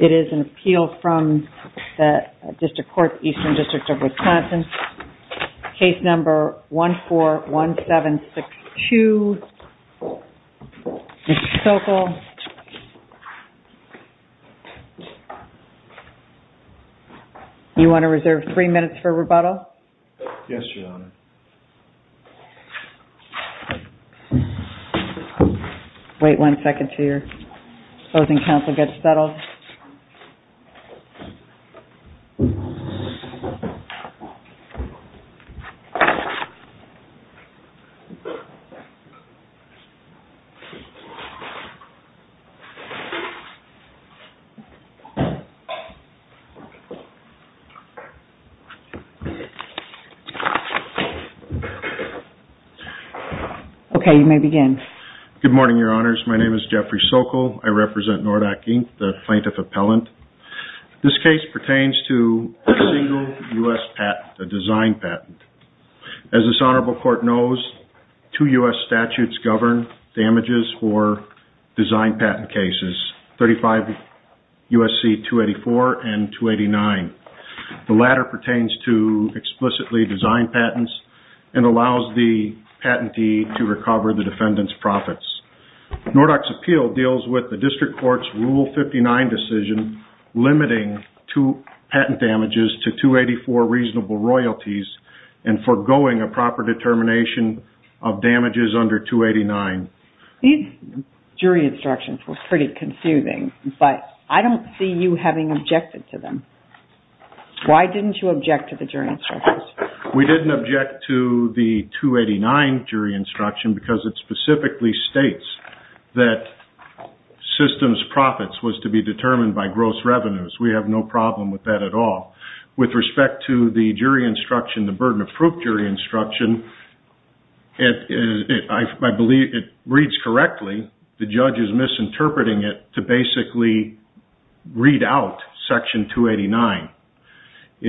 It is an appeal from the District Court, Eastern District of Wisconsin. Case number 141762. You want to reserve three minutes for rebuttal? Yes, Your Honor. Wait one second until your closing counsel gets settled. Okay, you may begin. Good morning, Your Honors. My name is Jeffrey Sokol. I represent Nordock, Inc., the plaintiff appellant. This case pertains to a single U.S. patent, a design patent. As this honorable court knows, two U.S. statutes govern damages for design patent cases, 35 U.S.C. 284 and 289. The latter pertains to explicitly designed patents and allows the patentee to recover the defendant's profits. Nordock's appeal deals with the District Court's Rule 59 decision limiting patent damages to 284 reasonable royalties and forgoing a proper determination of damages under 289. These jury instructions were pretty confusing, but I don't see you having objected to them. Why didn't you object to the jury instructions? We didn't object to the 289 jury instruction because it specifically states that systems profits was to be determined by gross revenues. We have no problem with that at all. With respect to the jury instruction, the burden of proof jury instruction, I believe it reads correctly. The judge is misinterpreting it to basically read out Section 289.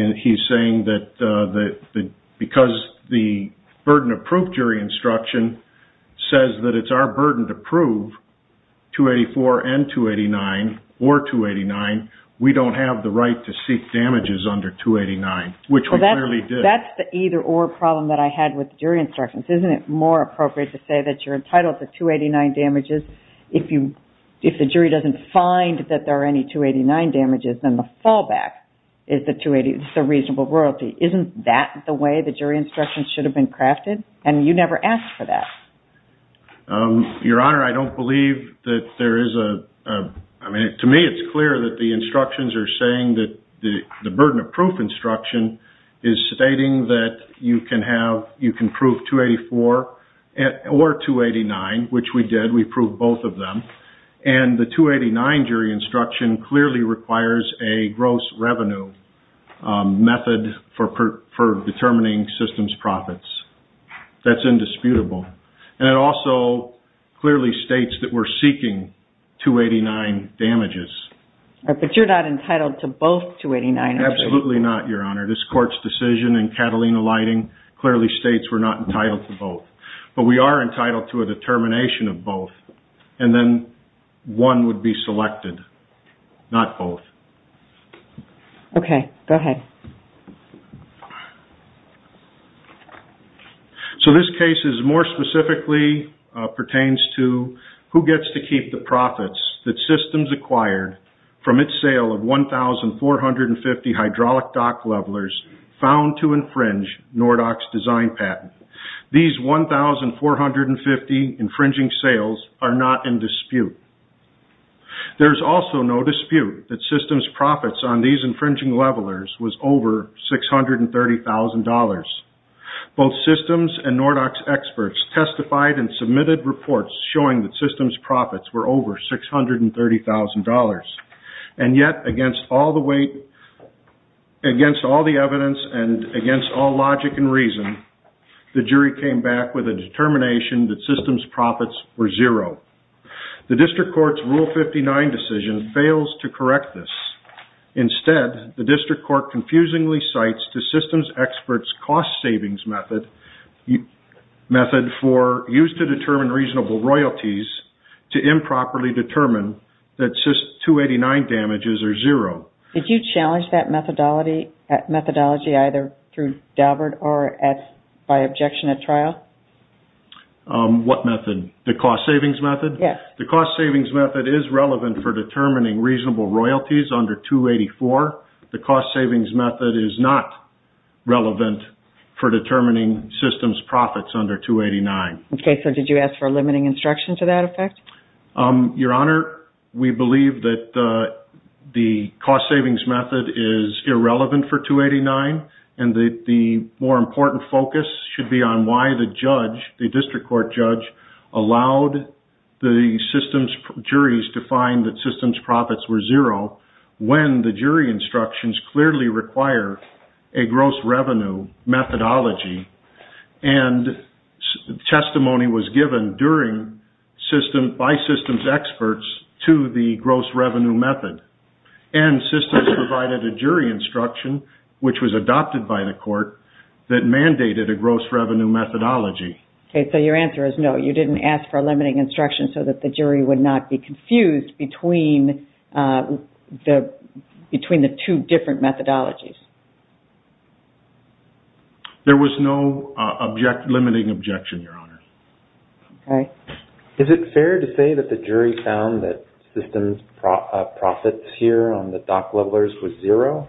He's saying that because the burden of proof jury instruction says that it's our burden to prove 284 and 289 or 289, we don't have the right to seek damages under 289, which we clearly did. That's the either or problem that I had with jury instructions. Isn't it more appropriate to say that you're entitled to 289 damages if the jury doesn't find that there are any 289 damages? Then the fallback is the reasonable royalty. Isn't that the way the jury instructions should have been crafted? And you never asked for that. Your Honor, I don't believe that there is a... I mean, to me, it's clear that the instructions are saying that the burden of proof instruction is stating that you can prove 284 or 289, which we did. We proved both of them. And the 289 jury instruction clearly requires a gross revenue method for determining systems profits. That's indisputable. And it also clearly states that we're seeking 289 damages. But you're not entitled to both 289. Absolutely not, Your Honor. This court's decision in Catalina Lighting clearly states we're not entitled to both. But we are entitled to a determination of both. And then one would be selected, not both. Okay, go ahead. So this case is more specifically pertains to who gets to keep the profits that systems acquired from its sale of 1,450 hydraulic dock levelers found to infringe NORDOC's design patent. These 1,450 infringing sales are not in dispute. There's also no dispute that systems profits on these infringing levelers was over $630,000. Both systems and NORDOC's experts testified and submitted reports showing that systems profits were over $630,000. And yet, against all the weight, against all the evidence, and against all logic and reason, the jury came back with a determination that systems profits were zero. The district court's Rule 59 decision fails to correct this. Instead, the district court confusingly cites the systems experts' cost savings method for use to determine reasonable royalties to improperly determine that 289 damages are zero. Did you challenge that methodology either through Daubert or by objection at trial? What method? The cost savings method? Yes. The cost savings method is relevant for determining reasonable royalties under 284. The cost savings method is not relevant for determining systems profits under 289. Okay, so did you ask for a limiting instruction to that effect? Your Honor, we believe that the cost savings method is irrelevant for 289. And the more important focus should be on why the judge, the district court judge, allowed the systems juries to find that systems profits were zero when the jury instructions clearly require a gross revenue methodology. And testimony was given by systems experts to the gross revenue method. And systems provided a jury instruction, which was adopted by the court, that mandated a gross revenue methodology. Okay, so your answer is no, you didn't ask for a limiting instruction so that the jury would not be confused between the two different methodologies. There was no limiting objection, Your Honor. Okay. Is it fair to say that the jury found that systems profits here on the dock levelers was zero?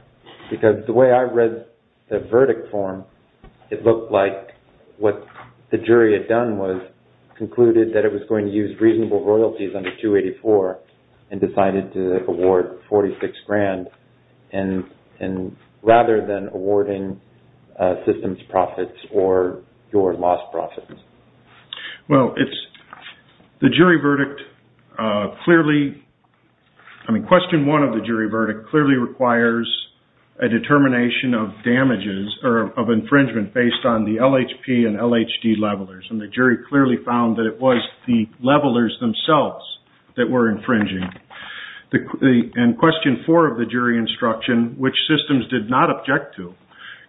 Because the way I read the verdict form, it looked like what the jury had done was concluded that it was going to use reasonable royalties under 284 and decided to award 46 grand rather than awarding systems profits or your lost profits. Well, it's the jury verdict clearly, I mean, question one of the jury verdict clearly requires a determination of damages or of infringement based on the LHP and LHD levelers. And the jury clearly found that it was the levelers themselves that were infringing. And question four of the jury instruction, which systems did not object to,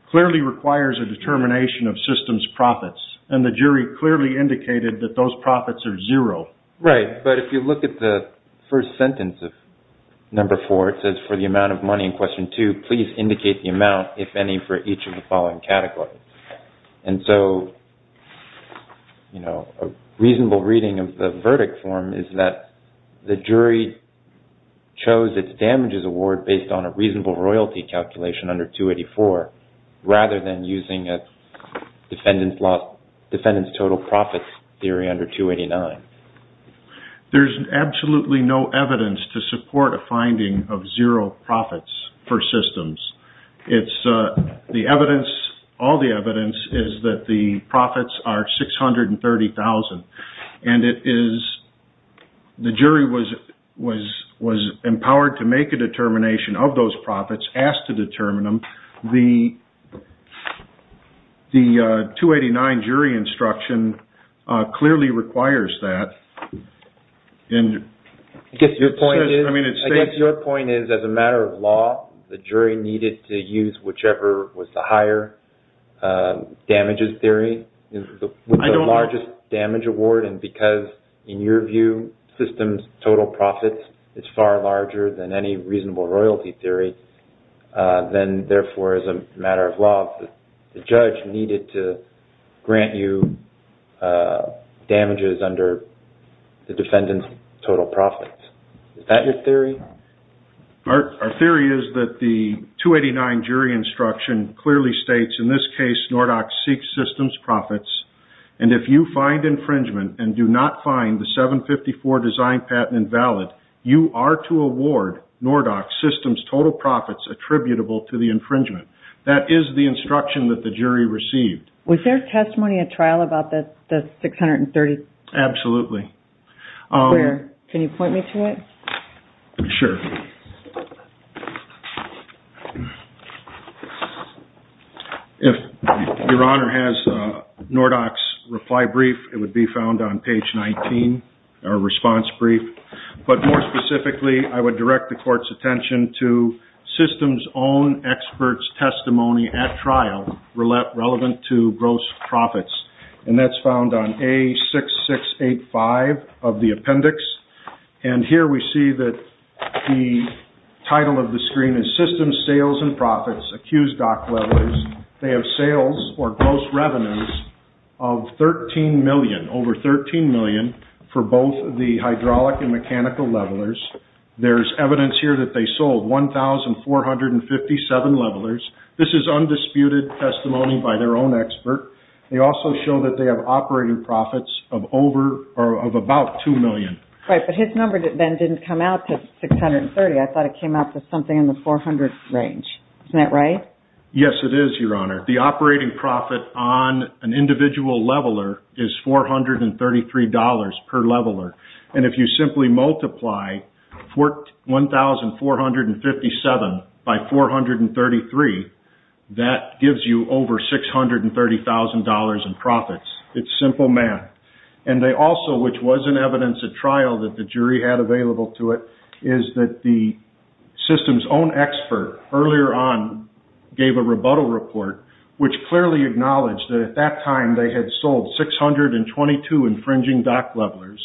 clearly requires a determination of systems profits. And the jury clearly indicated that those profits are zero. Right, but if you look at the first sentence of number four, it says, for the amount of money in question two, please indicate the amount, if any, for each of the following categories. And so, you know, a reasonable reading of the verdict form is that the jury chose its damages award based on a reasonable royalty calculation under 284 rather than using a defendant's total profits theory under 289. There's absolutely no evidence to support a finding of zero profits for systems. It's the evidence, all the evidence is that the profits are $630,000 and it is, the jury was empowered to make a determination of those profits, asked to determine them. The 289 jury instruction clearly requires that. I guess your point is, I guess your point is, as a matter of law, the jury needed to use whichever was the higher damages theory with the largest damage award. And because, in your view, systems total profits is far larger than any reasonable royalty theory, then therefore, as a matter of law, the judge needed to grant you damages under the defendant's total profits. Is that your theory? Our theory is that the 289 jury instruction clearly states, in this case, NORDOC seeks systems profits. And if you find infringement and do not find the 754 design patent invalid, you are to award NORDOC systems total profits attributable to the infringement. That is the instruction that the jury received. Was there testimony at trial about the $630,000? Absolutely. Can you point me to it? Sure. If your honor has NORDOC's reply brief, it would be found on page 19, our response brief. But more specifically, I would direct the court's attention to systems' own experts' testimony at trial relevant to gross profits. And that's found on A6685 of the appendix. And here we see that the title of the screen is systems sales and profits, accused dock levelers. They have sales or gross revenues of $13 million, over $13 million, for both the hydraulic and mechanical levelers. There's evidence here that they sold 1,457 levelers. This is undisputed testimony by their own expert. They also show that they have operating profits of over, or of about $2 million. Right, but his number then didn't come out to $630,000. I thought it came out to something in the $400,000 range. Isn't that right? Yes, it is. The operating profit on an individual leveler is $433 per leveler. And if you simply multiply 1,457 by 433, that gives you over $630,000 in profits. It's simple math. And they also, which was in evidence at trial that the jury had available to it, is that the system's own expert earlier on gave a rebuttal report, which clearly acknowledged that at that time, they had sold 622 infringing dock levelers,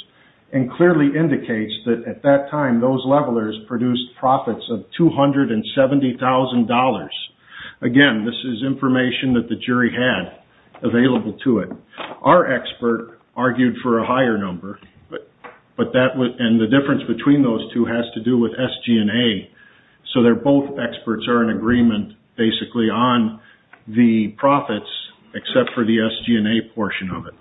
and clearly indicates that at that time, those levelers produced profits of $270,000. Again, this is information that the jury had available to it. Our expert argued for a higher number, and the difference between those two has to do with SG&A. So they're both experts are in agreement, basically, on the profits, except for the SG&A portion of it.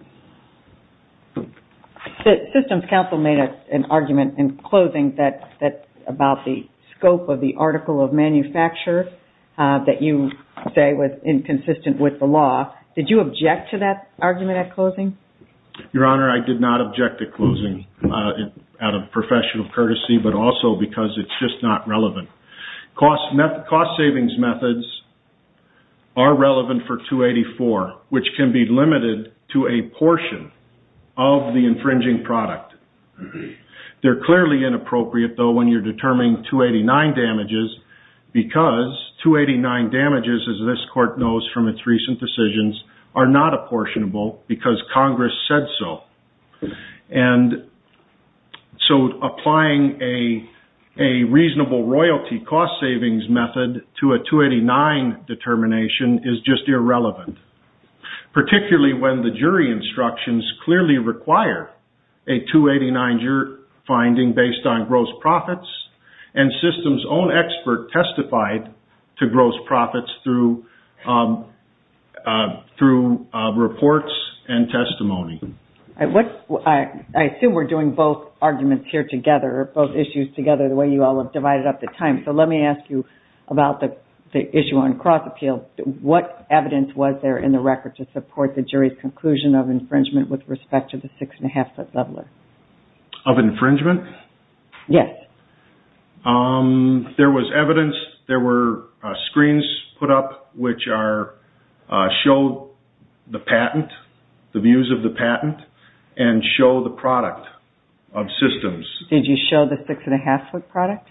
The Systems Council made an argument in closing about the scope of the article of manufacture that you say was inconsistent with the law. Did you object to that argument at closing? Your Honor, I did not object to closing out of professional courtesy, but also because it's just not relevant. Cost-savings methods are relevant for 284, which can be limited to a portion of the infringing product. They're clearly inappropriate, though, when you're determining 289 damages, because 289 damages, as this court knows from its recent decisions, are not apportionable because Congress said so. And so applying a reasonable royalty cost-savings method to a 289 determination is just irrelevant, particularly when the jury instructions clearly require a 289 finding based on gross profits, and Systems' own expert testified to gross profits through reports and testimony. I assume we're doing both arguments here together, both issues together, the way you all have divided up the time. So let me ask you about the issue on cross-appeal. What evidence was there in the record to support the jury's conclusion of infringement with respect to the six-and-a-half-foot leveler? Of infringement? Yes. There was evidence. There were screens put up which show the patent, the views of the patent, and show the product of Systems. Did you show the six-and-a-half-foot product?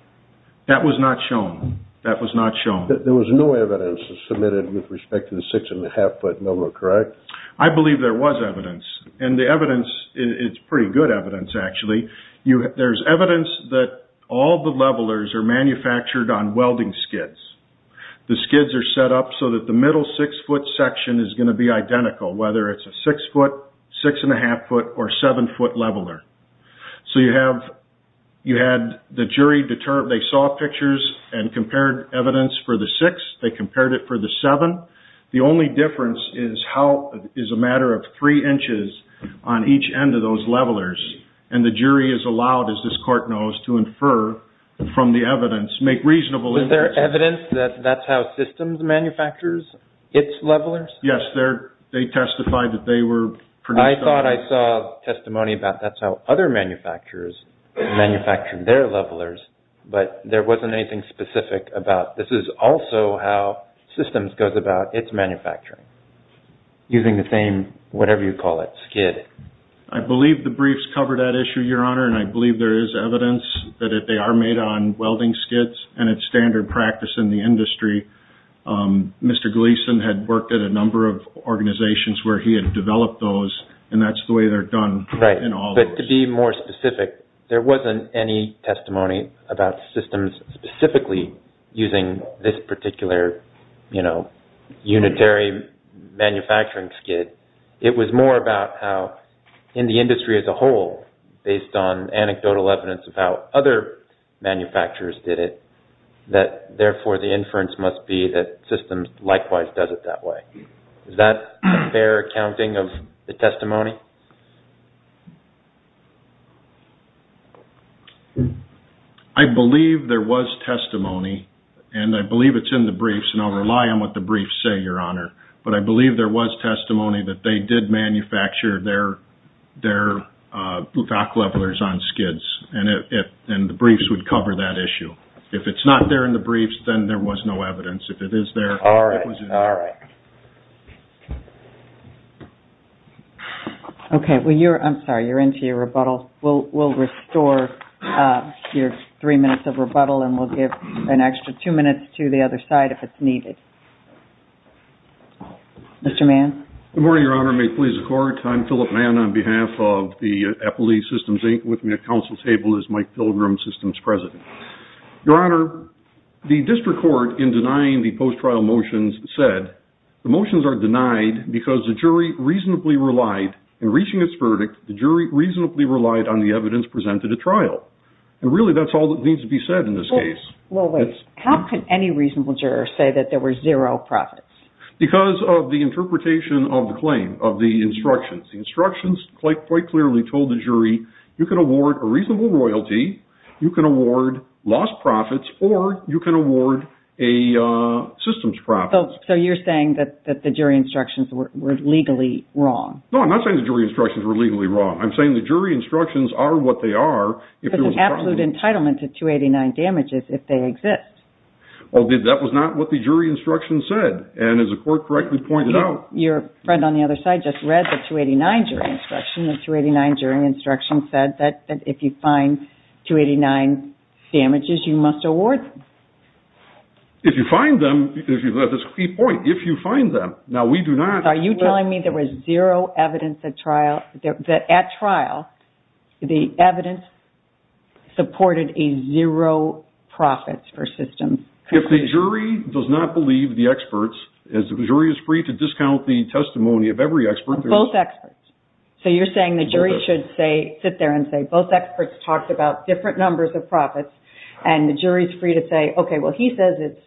That was not shown. That was not shown. There was no evidence submitted with respect to the six-and-a-half-foot leveler, correct? I believe there was evidence. And the evidence, it's pretty good evidence, actually. There's evidence that all the levelers are manufactured on welding skids. The skids are set up so that the middle six-foot section is going to be identical, whether it's a six-foot, six-and-a-half-foot, or seven-foot leveler. So you had the jury, they saw pictures and compared evidence for the six, they compared it for the seven. The only difference is how it is a matter of three inches on each end of those levelers. And the jury is allowed, as this court knows, to infer from the evidence, make reasonable inferences. Is there evidence that that's how Systems manufactures its levelers? Yes. They testified that they were producing them. I thought I saw testimony about that's how other manufacturers manufacture their levelers, but there wasn't anything specific about this. This is also how Systems goes about its manufacturing, using the same, whatever you call it, skid. I believe the briefs cover that issue, Your Honor, and I believe there is evidence that they are made on welding skids and it's standard practice in the industry. Mr. Gleason had worked at a number of organizations where he had developed those, and that's the way they're done in all of those. To be more specific, there wasn't any testimony about Systems specifically using this particular, you know, unitary manufacturing skid. It was more about how, in the industry as a whole, based on anecdotal evidence of how other manufacturers did it, that therefore the inference must be that Systems likewise does it that way. Is that a fair accounting of the testimony? I believe there was testimony, and I believe it's in the briefs, and I'll rely on what the briefs say, Your Honor, but I believe there was testimony that they did manufacture their back levelers on skids, and the briefs would cover that issue. If it's not there in the briefs, then there was no evidence. If it is there, it was in the briefs. All right. Okay. Well, you're, I'm sorry, you're into your rebuttal. We'll restore your three minutes of rebuttal, and we'll give an extra two minutes to the other side if it's needed. Mr. Mann? Good morning, Your Honor. May it please the Court, I'm Philip Mann on behalf of the Eppley Systems, Inc. With me at council table is Mike Pilgrim, Systems President. Your Honor, the district court in denying the post-trial motions said, the motions are denied because the jury reasonably relied, in reaching its verdict, the jury reasonably relied on the evidence presented at trial. And really, that's all that needs to be said in this case. Well, wait. How can any reasonable juror say that there were zero profits? Because of the interpretation of the claim, of the instructions. The instructions quite clearly told the jury, you can award a reasonable royalty, you can award lost profits, or you can award a systems profit. So you're saying that the jury instructions were legally wrong? No, I'm not saying the jury instructions were legally wrong. I'm saying the jury instructions are what they are. There's an absolute entitlement to 289 damages if they exist. Well, that was not what the jury instructions said. And as the Court correctly pointed out... The 289 jury instructions said that if you find 289 damages, you must award them. If you find them, that's a key point, if you find them. Now, we do not... Are you telling me there was zero evidence at trial, that at trial, the evidence supported a zero profits for systems? If the jury does not believe the experts, as the jury is free to discount the testimony of every expert... So you're saying the jury should sit there and say, both experts talked about different numbers of profits, and the jury is free to say, okay, well, he says it's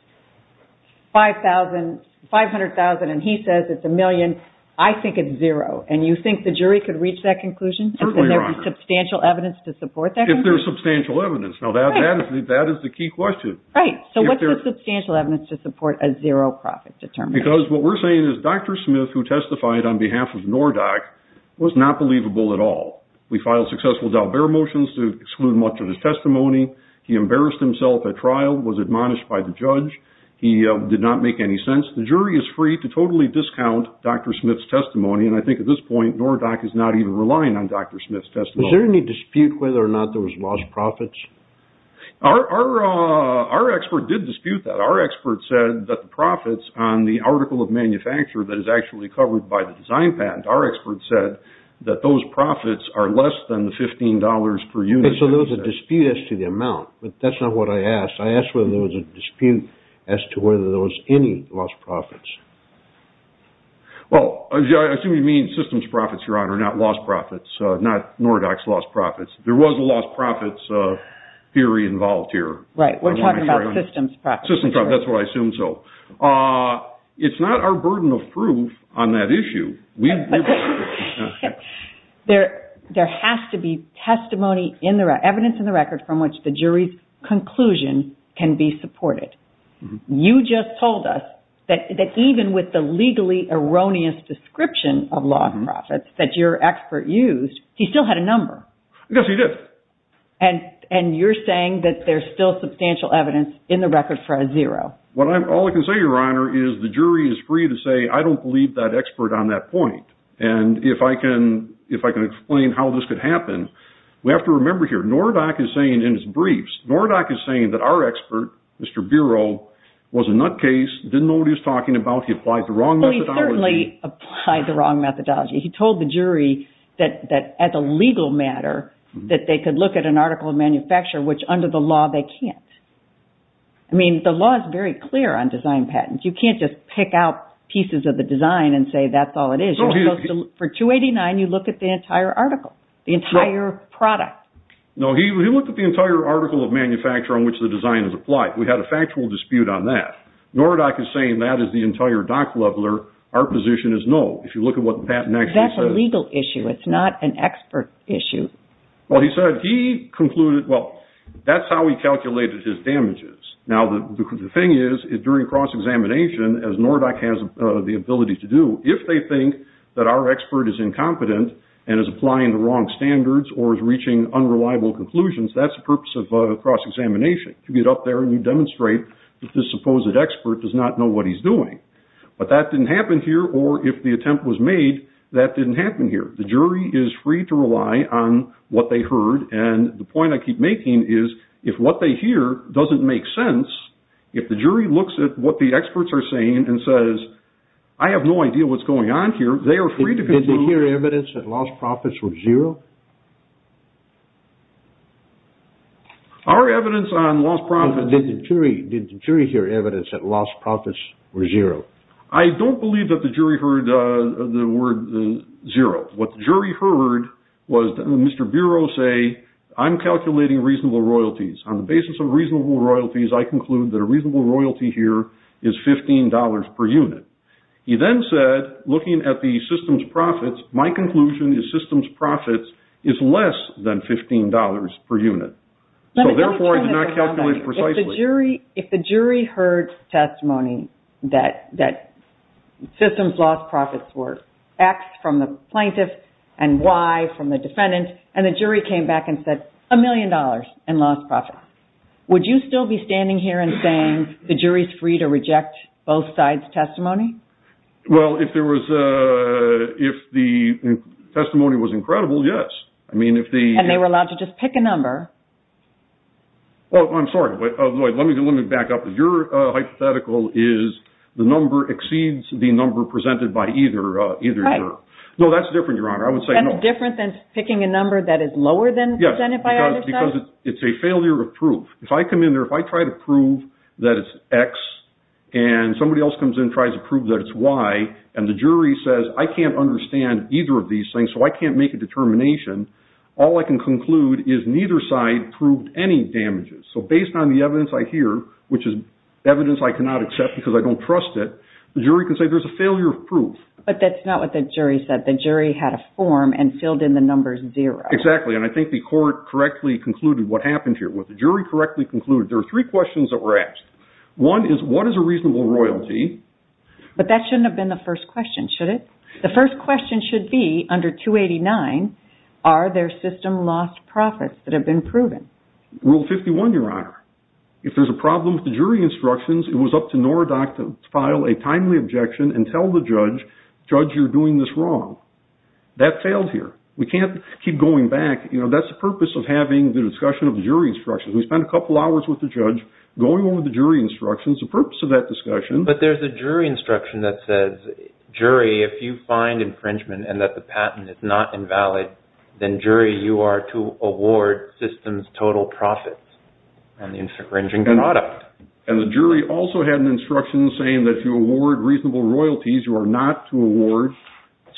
500,000, and he says it's a million. I think it's zero. And you think the jury could reach that conclusion? Certainly, Your Honor. If there's substantial evidence to support that conclusion? If there's substantial evidence. Now, that is the key question. Right. So what's the substantial evidence to support a zero profit determination? Because what we're saying is Dr. Smith, who testified on behalf of Nordak, was not believable at all. We filed successful Dalbert motions to exclude much of his testimony. He embarrassed himself at trial, was admonished by the judge. He did not make any sense. The jury is free to totally discount Dr. Smith's testimony, and I think at this point, Nordak is not even relying on Dr. Smith's testimony. Is there any dispute whether or not there was lost profits? Our expert did dispute that. Our expert said that the profits on the article of manufacture that is actually covered by the design patent, our expert said that those profits are less than the $15 per unit. So there was a dispute as to the amount, but that's not what I asked. I asked whether there was a dispute as to whether there was any lost profits. Well, I assume you mean systems profits, Your Honor, not lost profits. Not Nordak's lost profits. There was a lost profits theory involved here. Right. We're talking about systems profits. Systems profits, that's what I assume so. It's not our burden of proof on that issue. There has to be testimony, evidence in the record from which the jury's conclusion can be supported. You just told us that even with the legally erroneous description of lost profits that your expert used, he still had a number. Yes, he did. And you're saying that there's still substantial evidence in the record for a zero. All I can say, Your Honor, is the jury is free to say, I don't believe that expert on that point. And if I can explain how this could happen, we have to remember here, Nordak is saying in his briefs, Nordak is saying that our expert, Mr. Bureau, was a nutcase, didn't know what he was talking about. He applied the wrong methodology. He certainly applied the wrong methodology. He told the jury that as a legal matter, that they could look at an article of manufacture, which under the law, they can't. I mean, the law is very clear on design patents. You can't just pick out pieces of the design and say that's all it is. For 289, you look at the entire article, the entire product. No, he looked at the entire article of manufacture on which the design is applied. We had a factual dispute on that. Nordak is saying that is the entire dock leveler. Our position is no. If you look at what the patent actually says. That's a legal issue. It's not an expert issue. Well, he said he concluded, well, that's how he calculated his damages. Now, the thing is, during cross-examination, as Nordak has the ability to do, if they think that our expert is incompetent and is applying the wrong standards or is reaching unreliable conclusions, that's the purpose of cross-examination, to get up there and demonstrate that this supposed expert does not know what he's doing. But that didn't happen here, or if the attempt was made, that didn't happen here. The jury is free to rely on what they heard, and the point I keep making is, if what they hear doesn't make sense, if the jury looks at what the experts are saying and says, I have no idea what's going on here, they are free to conclude. Did they hear evidence that lost profits were zero? Our evidence on lost profits. Did the jury hear evidence that lost profits were zero? I don't believe that the jury heard the word zero. What the jury heard was Mr. Bureau say, I'm calculating reasonable royalties. On the basis of reasonable royalties, I conclude that a reasonable royalty here is $15 per unit. He then said, looking at the system's profits, my conclusion is system's profits is less than $15 per unit. Therefore, I did not calculate precisely. If the jury heard testimony that system's lost profits were X from the plaintiff and Y from the defendant, and the jury came back and said, a million dollars in lost profits, would you still be standing here and saying the jury is free to reject both sides' testimony? Well, if the testimony was incredible, yes. And they were allowed to just pick a number? Well, I'm sorry. Let me back up. Your hypothetical is the number exceeds the number presented by either juror. No, that's different, Your Honor. That's different than picking a number that is lower than presented by either side? Yes, because it's a failure of proof. If I come in there, if I try to prove that it's X, and somebody else comes in and tries to prove that it's Y, and the jury says, I can't understand either of these things, so I can't make a determination, all I can conclude is neither side proved any damages. So based on the evidence I hear, which is evidence I cannot accept because I don't trust it, the jury can say there's a failure of proof. But that's not what the jury said. The jury had a form and filled in the numbers zero. Exactly, and I think the court correctly concluded what happened here. What the jury correctly concluded, there are three questions that were asked. One is, what is a reasonable royalty? But that shouldn't have been the first question, should it? The first question should be, under 289, are there system lost profits that have been proven? Rule 51, Your Honor. If there's a problem with the jury instructions, it was up to NORADOC to file a timely objection and tell the judge, judge, you're doing this wrong. That failed here. We can't keep going back. You know, that's the purpose of having the discussion of the jury instructions. We spent a couple hours with the judge going over the jury instructions. That's the purpose of that discussion. But there's a jury instruction that says, jury, if you find infringement and that the patent is not invalid, then jury, you are to award systems total profits on the infringing product. And the jury also had an instruction saying that if you award reasonable royalties, you are not to award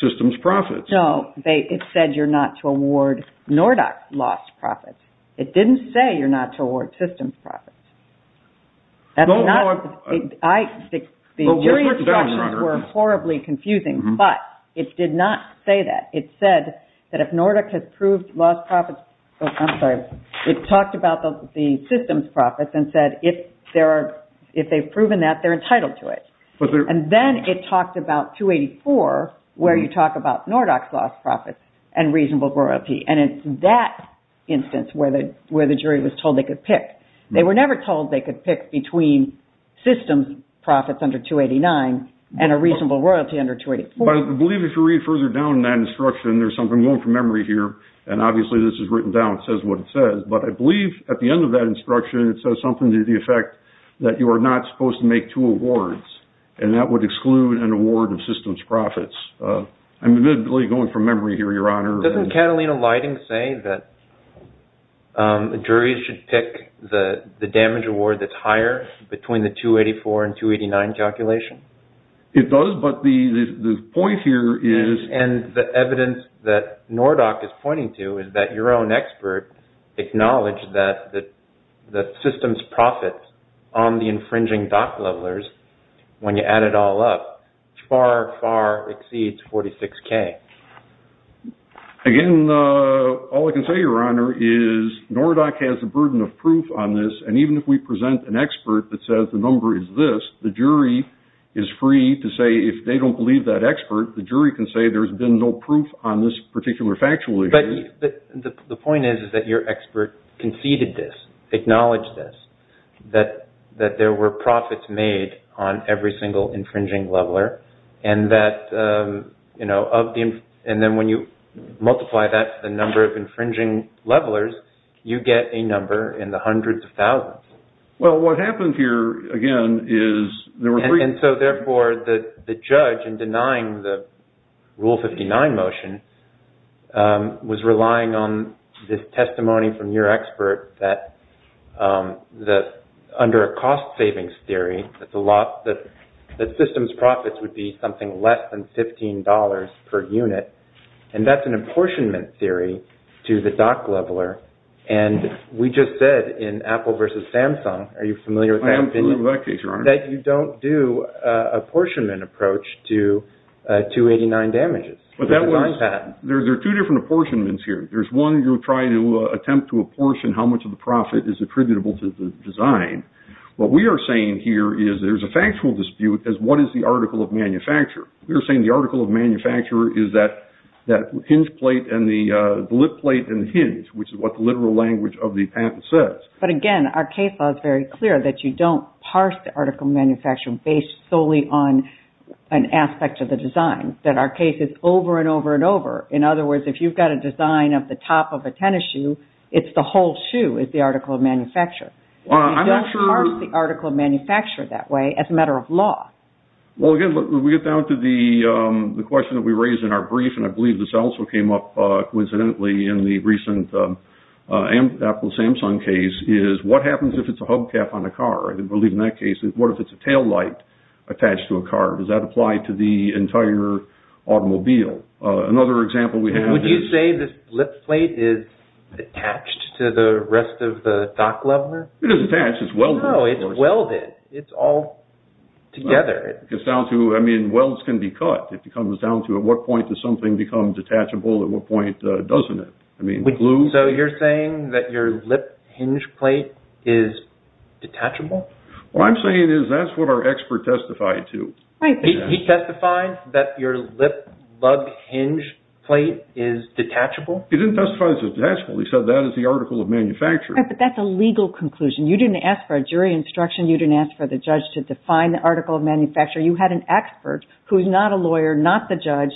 systems profits. No, it said you're not to award NORADOC lost profits. It didn't say you're not to award systems profits. That's not – the jury instructions were horribly confusing, but it did not say that. It said that if NORADOC has proved lost profits – I'm sorry. It talked about the systems profits and said if they've proven that, they're entitled to it. And then it talked about 284, where you talk about NORADOC's lost profits and reasonable royalty. And it's that instance where the jury was told they could pick. They were never told they could pick between systems profits under 289 and a reasonable royalty under 284. But I believe if you read further down in that instruction, there's something – I'm going from memory here. And obviously, this is written down. It says what it says. But I believe at the end of that instruction, it says something to the effect that you are not supposed to make two awards. And that would exclude an award of systems profits. I'm admittedly going from memory here, Your Honor. Doesn't Catalina Lighting say that juries should pick the damage award that's higher between the 284 and 289 calculation? It does, but the point here is – And the evidence that NORADOC is pointing to is that your own expert acknowledged that the systems profits on the infringing DOC levelers, when you add it all up, far, far exceeds 46K. Again, all I can say, Your Honor, is NORADOC has the burden of proof on this. And even if we present an expert that says the number is this, the jury is free to say if they don't believe that expert, the jury can say there's been no proof on this particular factual issue. But the point is that your expert conceded this, acknowledged this, that there were profits made on every single infringing leveler. And then when you multiply that to the number of infringing levelers, you get a number in the hundreds of thousands. Well, what happened here, again, is – And so, therefore, the judge in denying the Rule 59 motion was relying on this testimony from your expert that under a cost-savings theory, that the system's profits would be something less than $15 per unit. And that's an apportionment theory to the DOC leveler. And we just said in Apple versus Samsung, are you familiar with that opinion? I am familiar with that case, Your Honor. That you don't do apportionment approach to 289 damages. There are two different apportionments here. There's one you try to attempt to apportion how much of the profit is attributable to the design. What we are saying here is there's a factual dispute as what is the article of manufacture. We are saying the article of manufacture is that hinge plate and the lip plate and the hinge, which is what the literal language of the patent says. But, again, our case law is very clear that you don't parse the article of manufacture based solely on an aspect of the design. That our case is over and over and over. In other words, if you've got a design of the top of a tennis shoe, it's the whole shoe is the article of manufacture. You don't parse the article of manufacture that way as a matter of law. Well, again, we get down to the question that we raised in our brief, and I believe this also came up coincidentally in the recent Apple-Samsung case, is what happens if it's a hubcap on a car? I believe in that case, what if it's a taillight attached to a car? Does that apply to the entire automobile? Another example we have is... Would you say this lip plate is attached to the rest of the dock leveler? It is attached. It's welded. No, it's welded. It's all together. It's down to... I mean, welds can be cut. It comes down to at what point does something become detachable and at what point doesn't it? So you're saying that your lip hinge plate is detachable? What I'm saying is that's what our expert testified to. He testified that your lip lug hinge plate is detachable? He didn't testify that it's detachable. He said that is the article of manufacture. But that's a legal conclusion. You didn't ask for a jury instruction. You didn't ask for the judge to define the article of manufacture. You had an expert who's not a lawyer, not the judge,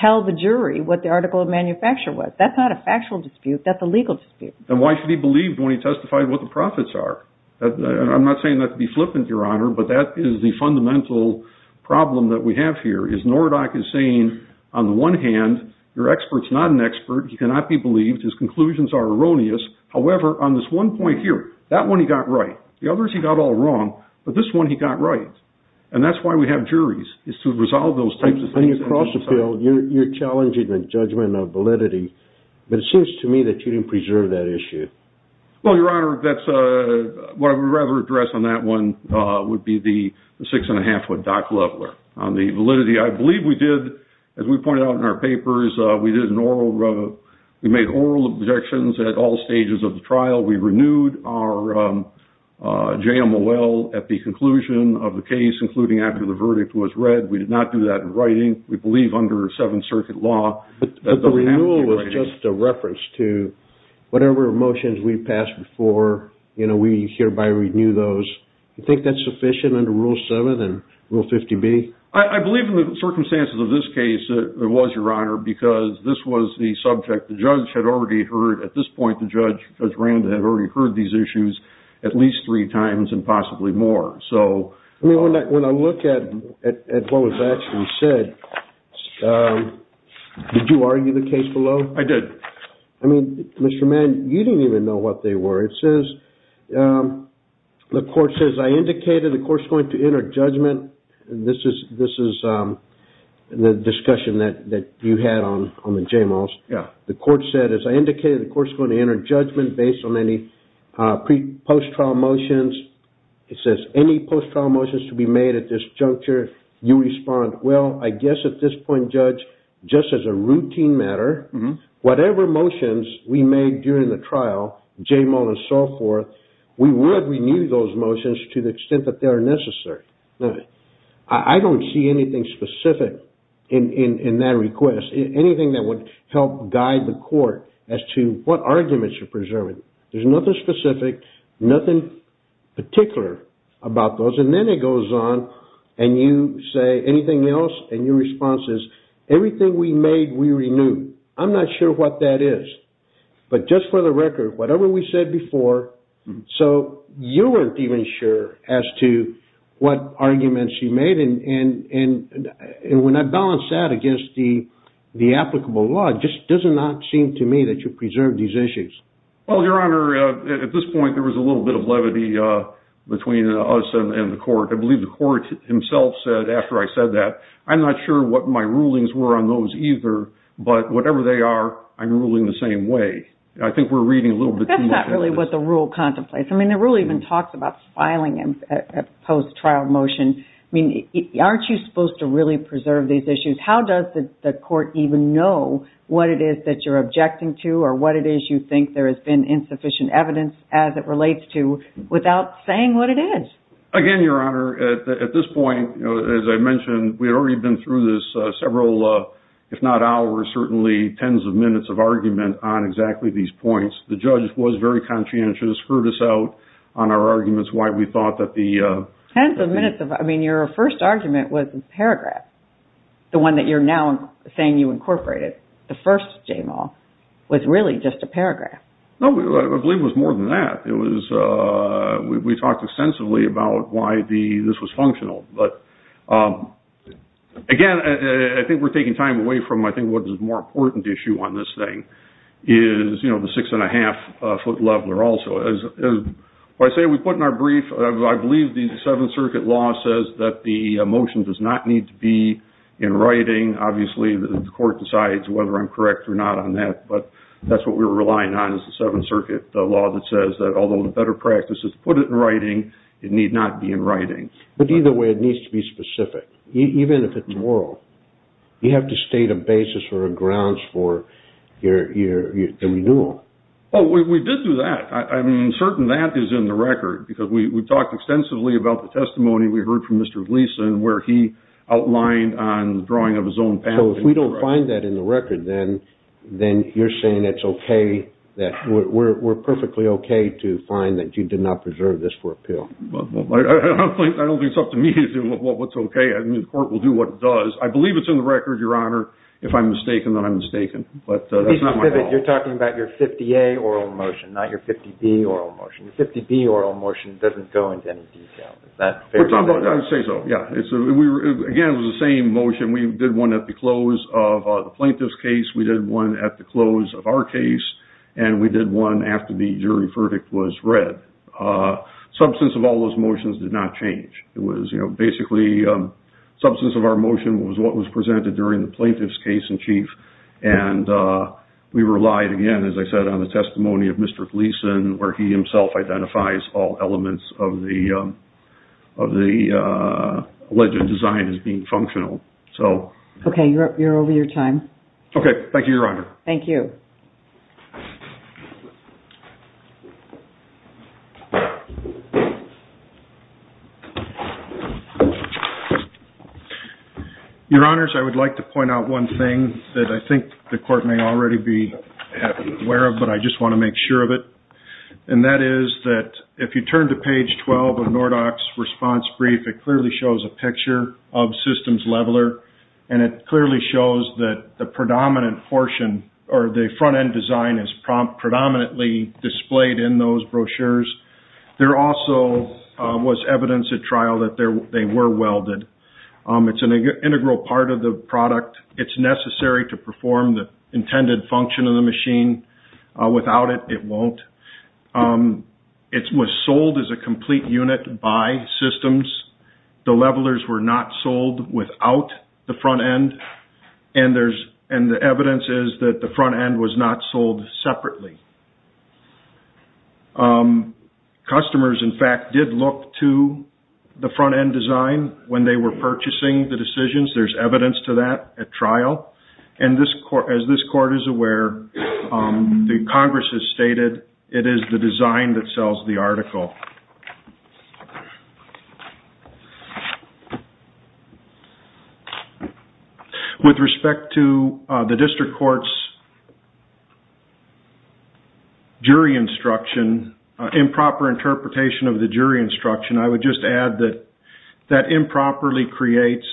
tell the jury what the article of manufacture was. That's not a factual dispute. That's a legal dispute. Then why should he believe when he testified what the profits are? I'm not saying that to be flippant, Your Honor, but that is the fundamental problem that we have here, is Nordach is saying, on the one hand, your expert's not an expert. He cannot be believed. His conclusions are erroneous. However, on this one point here, that one he got right. The others he got all wrong, but this one he got right. And that's why we have juries, is to resolve those types of things. On your cross appeal, you're challenging the judgment of validity, but it seems to me that you didn't preserve that issue. Well, Your Honor, what I would rather address on that one would be the six-and-a-half-foot dock leveler. On the validity, I believe we did, as we pointed out in our papers, we made oral objections at all stages of the trial. We renewed our JMOL at the conclusion of the case, including after the verdict was read. We did not do that in writing. We believe under Seventh Circuit law that doesn't have to be rewritten. But the renewal was just a reference to whatever motions we passed before, you know, we hereby renew those. You think that's sufficient under Rule 7 and Rule 50B? I believe in the circumstances of this case, it was, Your Honor, because this was the subject the judge had already heard. At this point, the judge, Judge Rand, had already heard these issues at least three times and possibly more. When I look at what was actually said, did you argue the case below? I did. I mean, Mr. Mann, you didn't even know what they were. The court says, I indicated the court's going to enter judgment. This is the discussion that you had on the JMOLs. The court said, as I indicated, the court's going to enter judgment based on any post-trial motions. It says, any post-trial motions to be made at this juncture. You respond, well, I guess at this point, Judge, just as a routine matter, whatever motions we made during the trial, JMOL and so forth, we would renew those motions to the extent that they are necessary. Now, I don't see anything specific in that request, anything that would help guide the court as to what arguments you're preserving. There's nothing specific, nothing particular about those. And you say, anything else? And your response is, everything we made, we renewed. I'm not sure what that is. But just for the record, whatever we said before, so you weren't even sure as to what arguments you made. And when I balance that against the applicable law, it just does not seem to me that you preserved these issues. Well, Your Honor, at this point, there was a little bit of levity between us and the court. I believe the court himself said, after I said that, I'm not sure what my rulings were on those either. But whatever they are, I'm ruling the same way. I think we're reading a little bit too much. That's not really what the rule contemplates. I mean, the rule even talks about filing a post-trial motion. I mean, aren't you supposed to really preserve these issues? How does the court even know what it is that you're objecting to or what it is you think there has been insufficient evidence as it relates to without saying what it is? Again, Your Honor, at this point, as I mentioned, we had already been through this several, if not hours, certainly tens of minutes of argument on exactly these points. The judge was very conscientious, heard us out on our arguments, why we thought that the… I mean, your first argument was a paragraph, the one that you're now saying you incorporated. The first, Jamal, was really just a paragraph. No, I believe it was more than that. We talked extensively about why this was functional. But, again, I think we're taking time away from I think what is a more important issue on this thing is, you know, the six-and-a-half foot leveler also. What I say we put in our brief, I believe the Seventh Circuit law says that the motion does not need to be in writing. Obviously, the court decides whether I'm correct or not on that. But that's what we're relying on is the Seventh Circuit law that says that although the better practice is to put it in writing, it need not be in writing. But either way, it needs to be specific, even if it's moral. You have to state a basis or a grounds for the renewal. Oh, we did do that. I'm certain that is in the record because we talked extensively about the testimony we heard from Mr. Gleason where he outlined on the drawing of his own patent. So if we don't find that in the record, then you're saying it's okay, that we're perfectly okay to find that you did not preserve this for appeal? I don't think it's up to me to do what's okay. I mean, the court will do what it does. I believe it's in the record, Your Honor, if I'm mistaken that I'm mistaken. You're talking about your 50A oral motion, not your 50B oral motion. The 50B oral motion doesn't go into any detail. I would say so, yeah. Again, it was the same motion. We did one at the close of the plaintiff's case. We did one at the close of our case. And we did one after the jury verdict was read. Substance of all those motions did not change. It was basically substance of our motion was what was presented during the plaintiff's case in chief. And we relied, again, as I said, on the testimony of Mr. Gleason where he himself identifies all elements of the alleged design as being functional. Okay, you're over your time. Okay, thank you, Your Honor. Thank you. Your Honors, I would like to point out one thing that I think the court may already be aware of, but I just want to make sure of it. And that is that if you turn to page 12 of NORDOC's response brief, it clearly shows a picture of systems leveler. And it clearly shows that the predominant portion or the front-end design is predominantly displayed in those brochures. There also was evidence at trial that they were welded. It's an integral part of the product. It's necessary to perform the intended function of the machine. Without it, it won't. It was sold as a complete unit by systems. The levelers were not sold without the front-end. And the evidence is that the front-end was not sold separately. Customers, in fact, did look to the front-end design when they were purchasing the decisions. There's evidence to that at trial. And as this court is aware, the Congress has stated it is the design that sells the article. With respect to the district court's jury instruction, improper interpretation of the jury instruction, I would just add that that improperly creates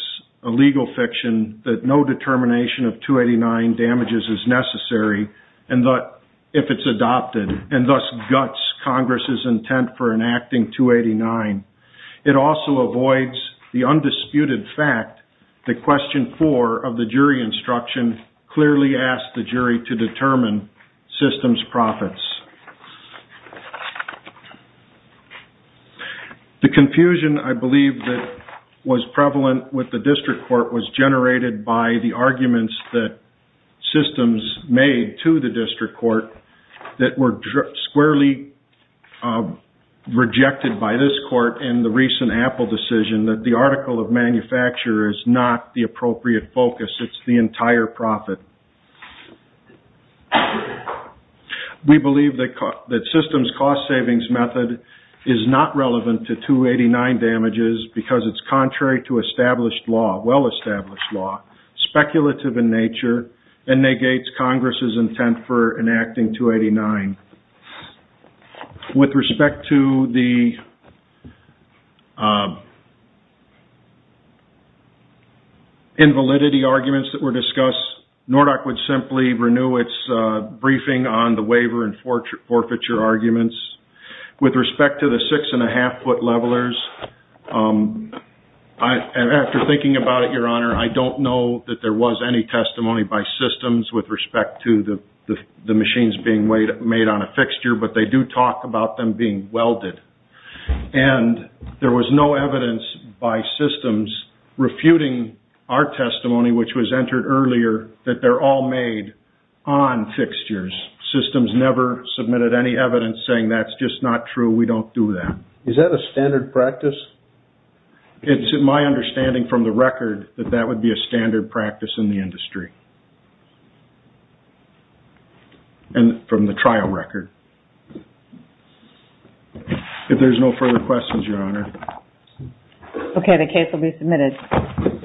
a legal fiction that no determination of 289 damages is necessary if it's adopted. And thus guts Congress's intent for enacting 289. It also avoids the undisputed fact that question four of the jury instruction clearly asked the jury to determine systems' profits. The confusion, I believe, that was prevalent with the district court was generated by the arguments that systems made to the district court that were squarely rejected by this court in the recent Apple decision that the article of manufacture is not the appropriate focus. It's the entire profit. We believe that systems' cost savings method is not relevant to 289 damages because it's contrary to established law, well-established law, speculative in nature, and negates Congress's intent for enacting 289. With respect to the invalidity arguments that were discussed, NORDOC would simply renew its briefing on the waiver and forfeiture arguments. With respect to the six-and-a-half-foot levelers, after thinking about it, Your Honor, I don't know that there was any testimony by systems with respect to the machines being made on a fixture, but they do talk about them being welded. And there was no evidence by systems refuting our testimony, which was entered earlier, that they're all made on fixtures. Systems never submitted any evidence saying that's just not true, we don't do that. Is that a standard practice? It's my understanding from the record that that would be a standard practice in the industry. And from the trial record. If there's no further questions, Your Honor. Okay, the case will be submitted.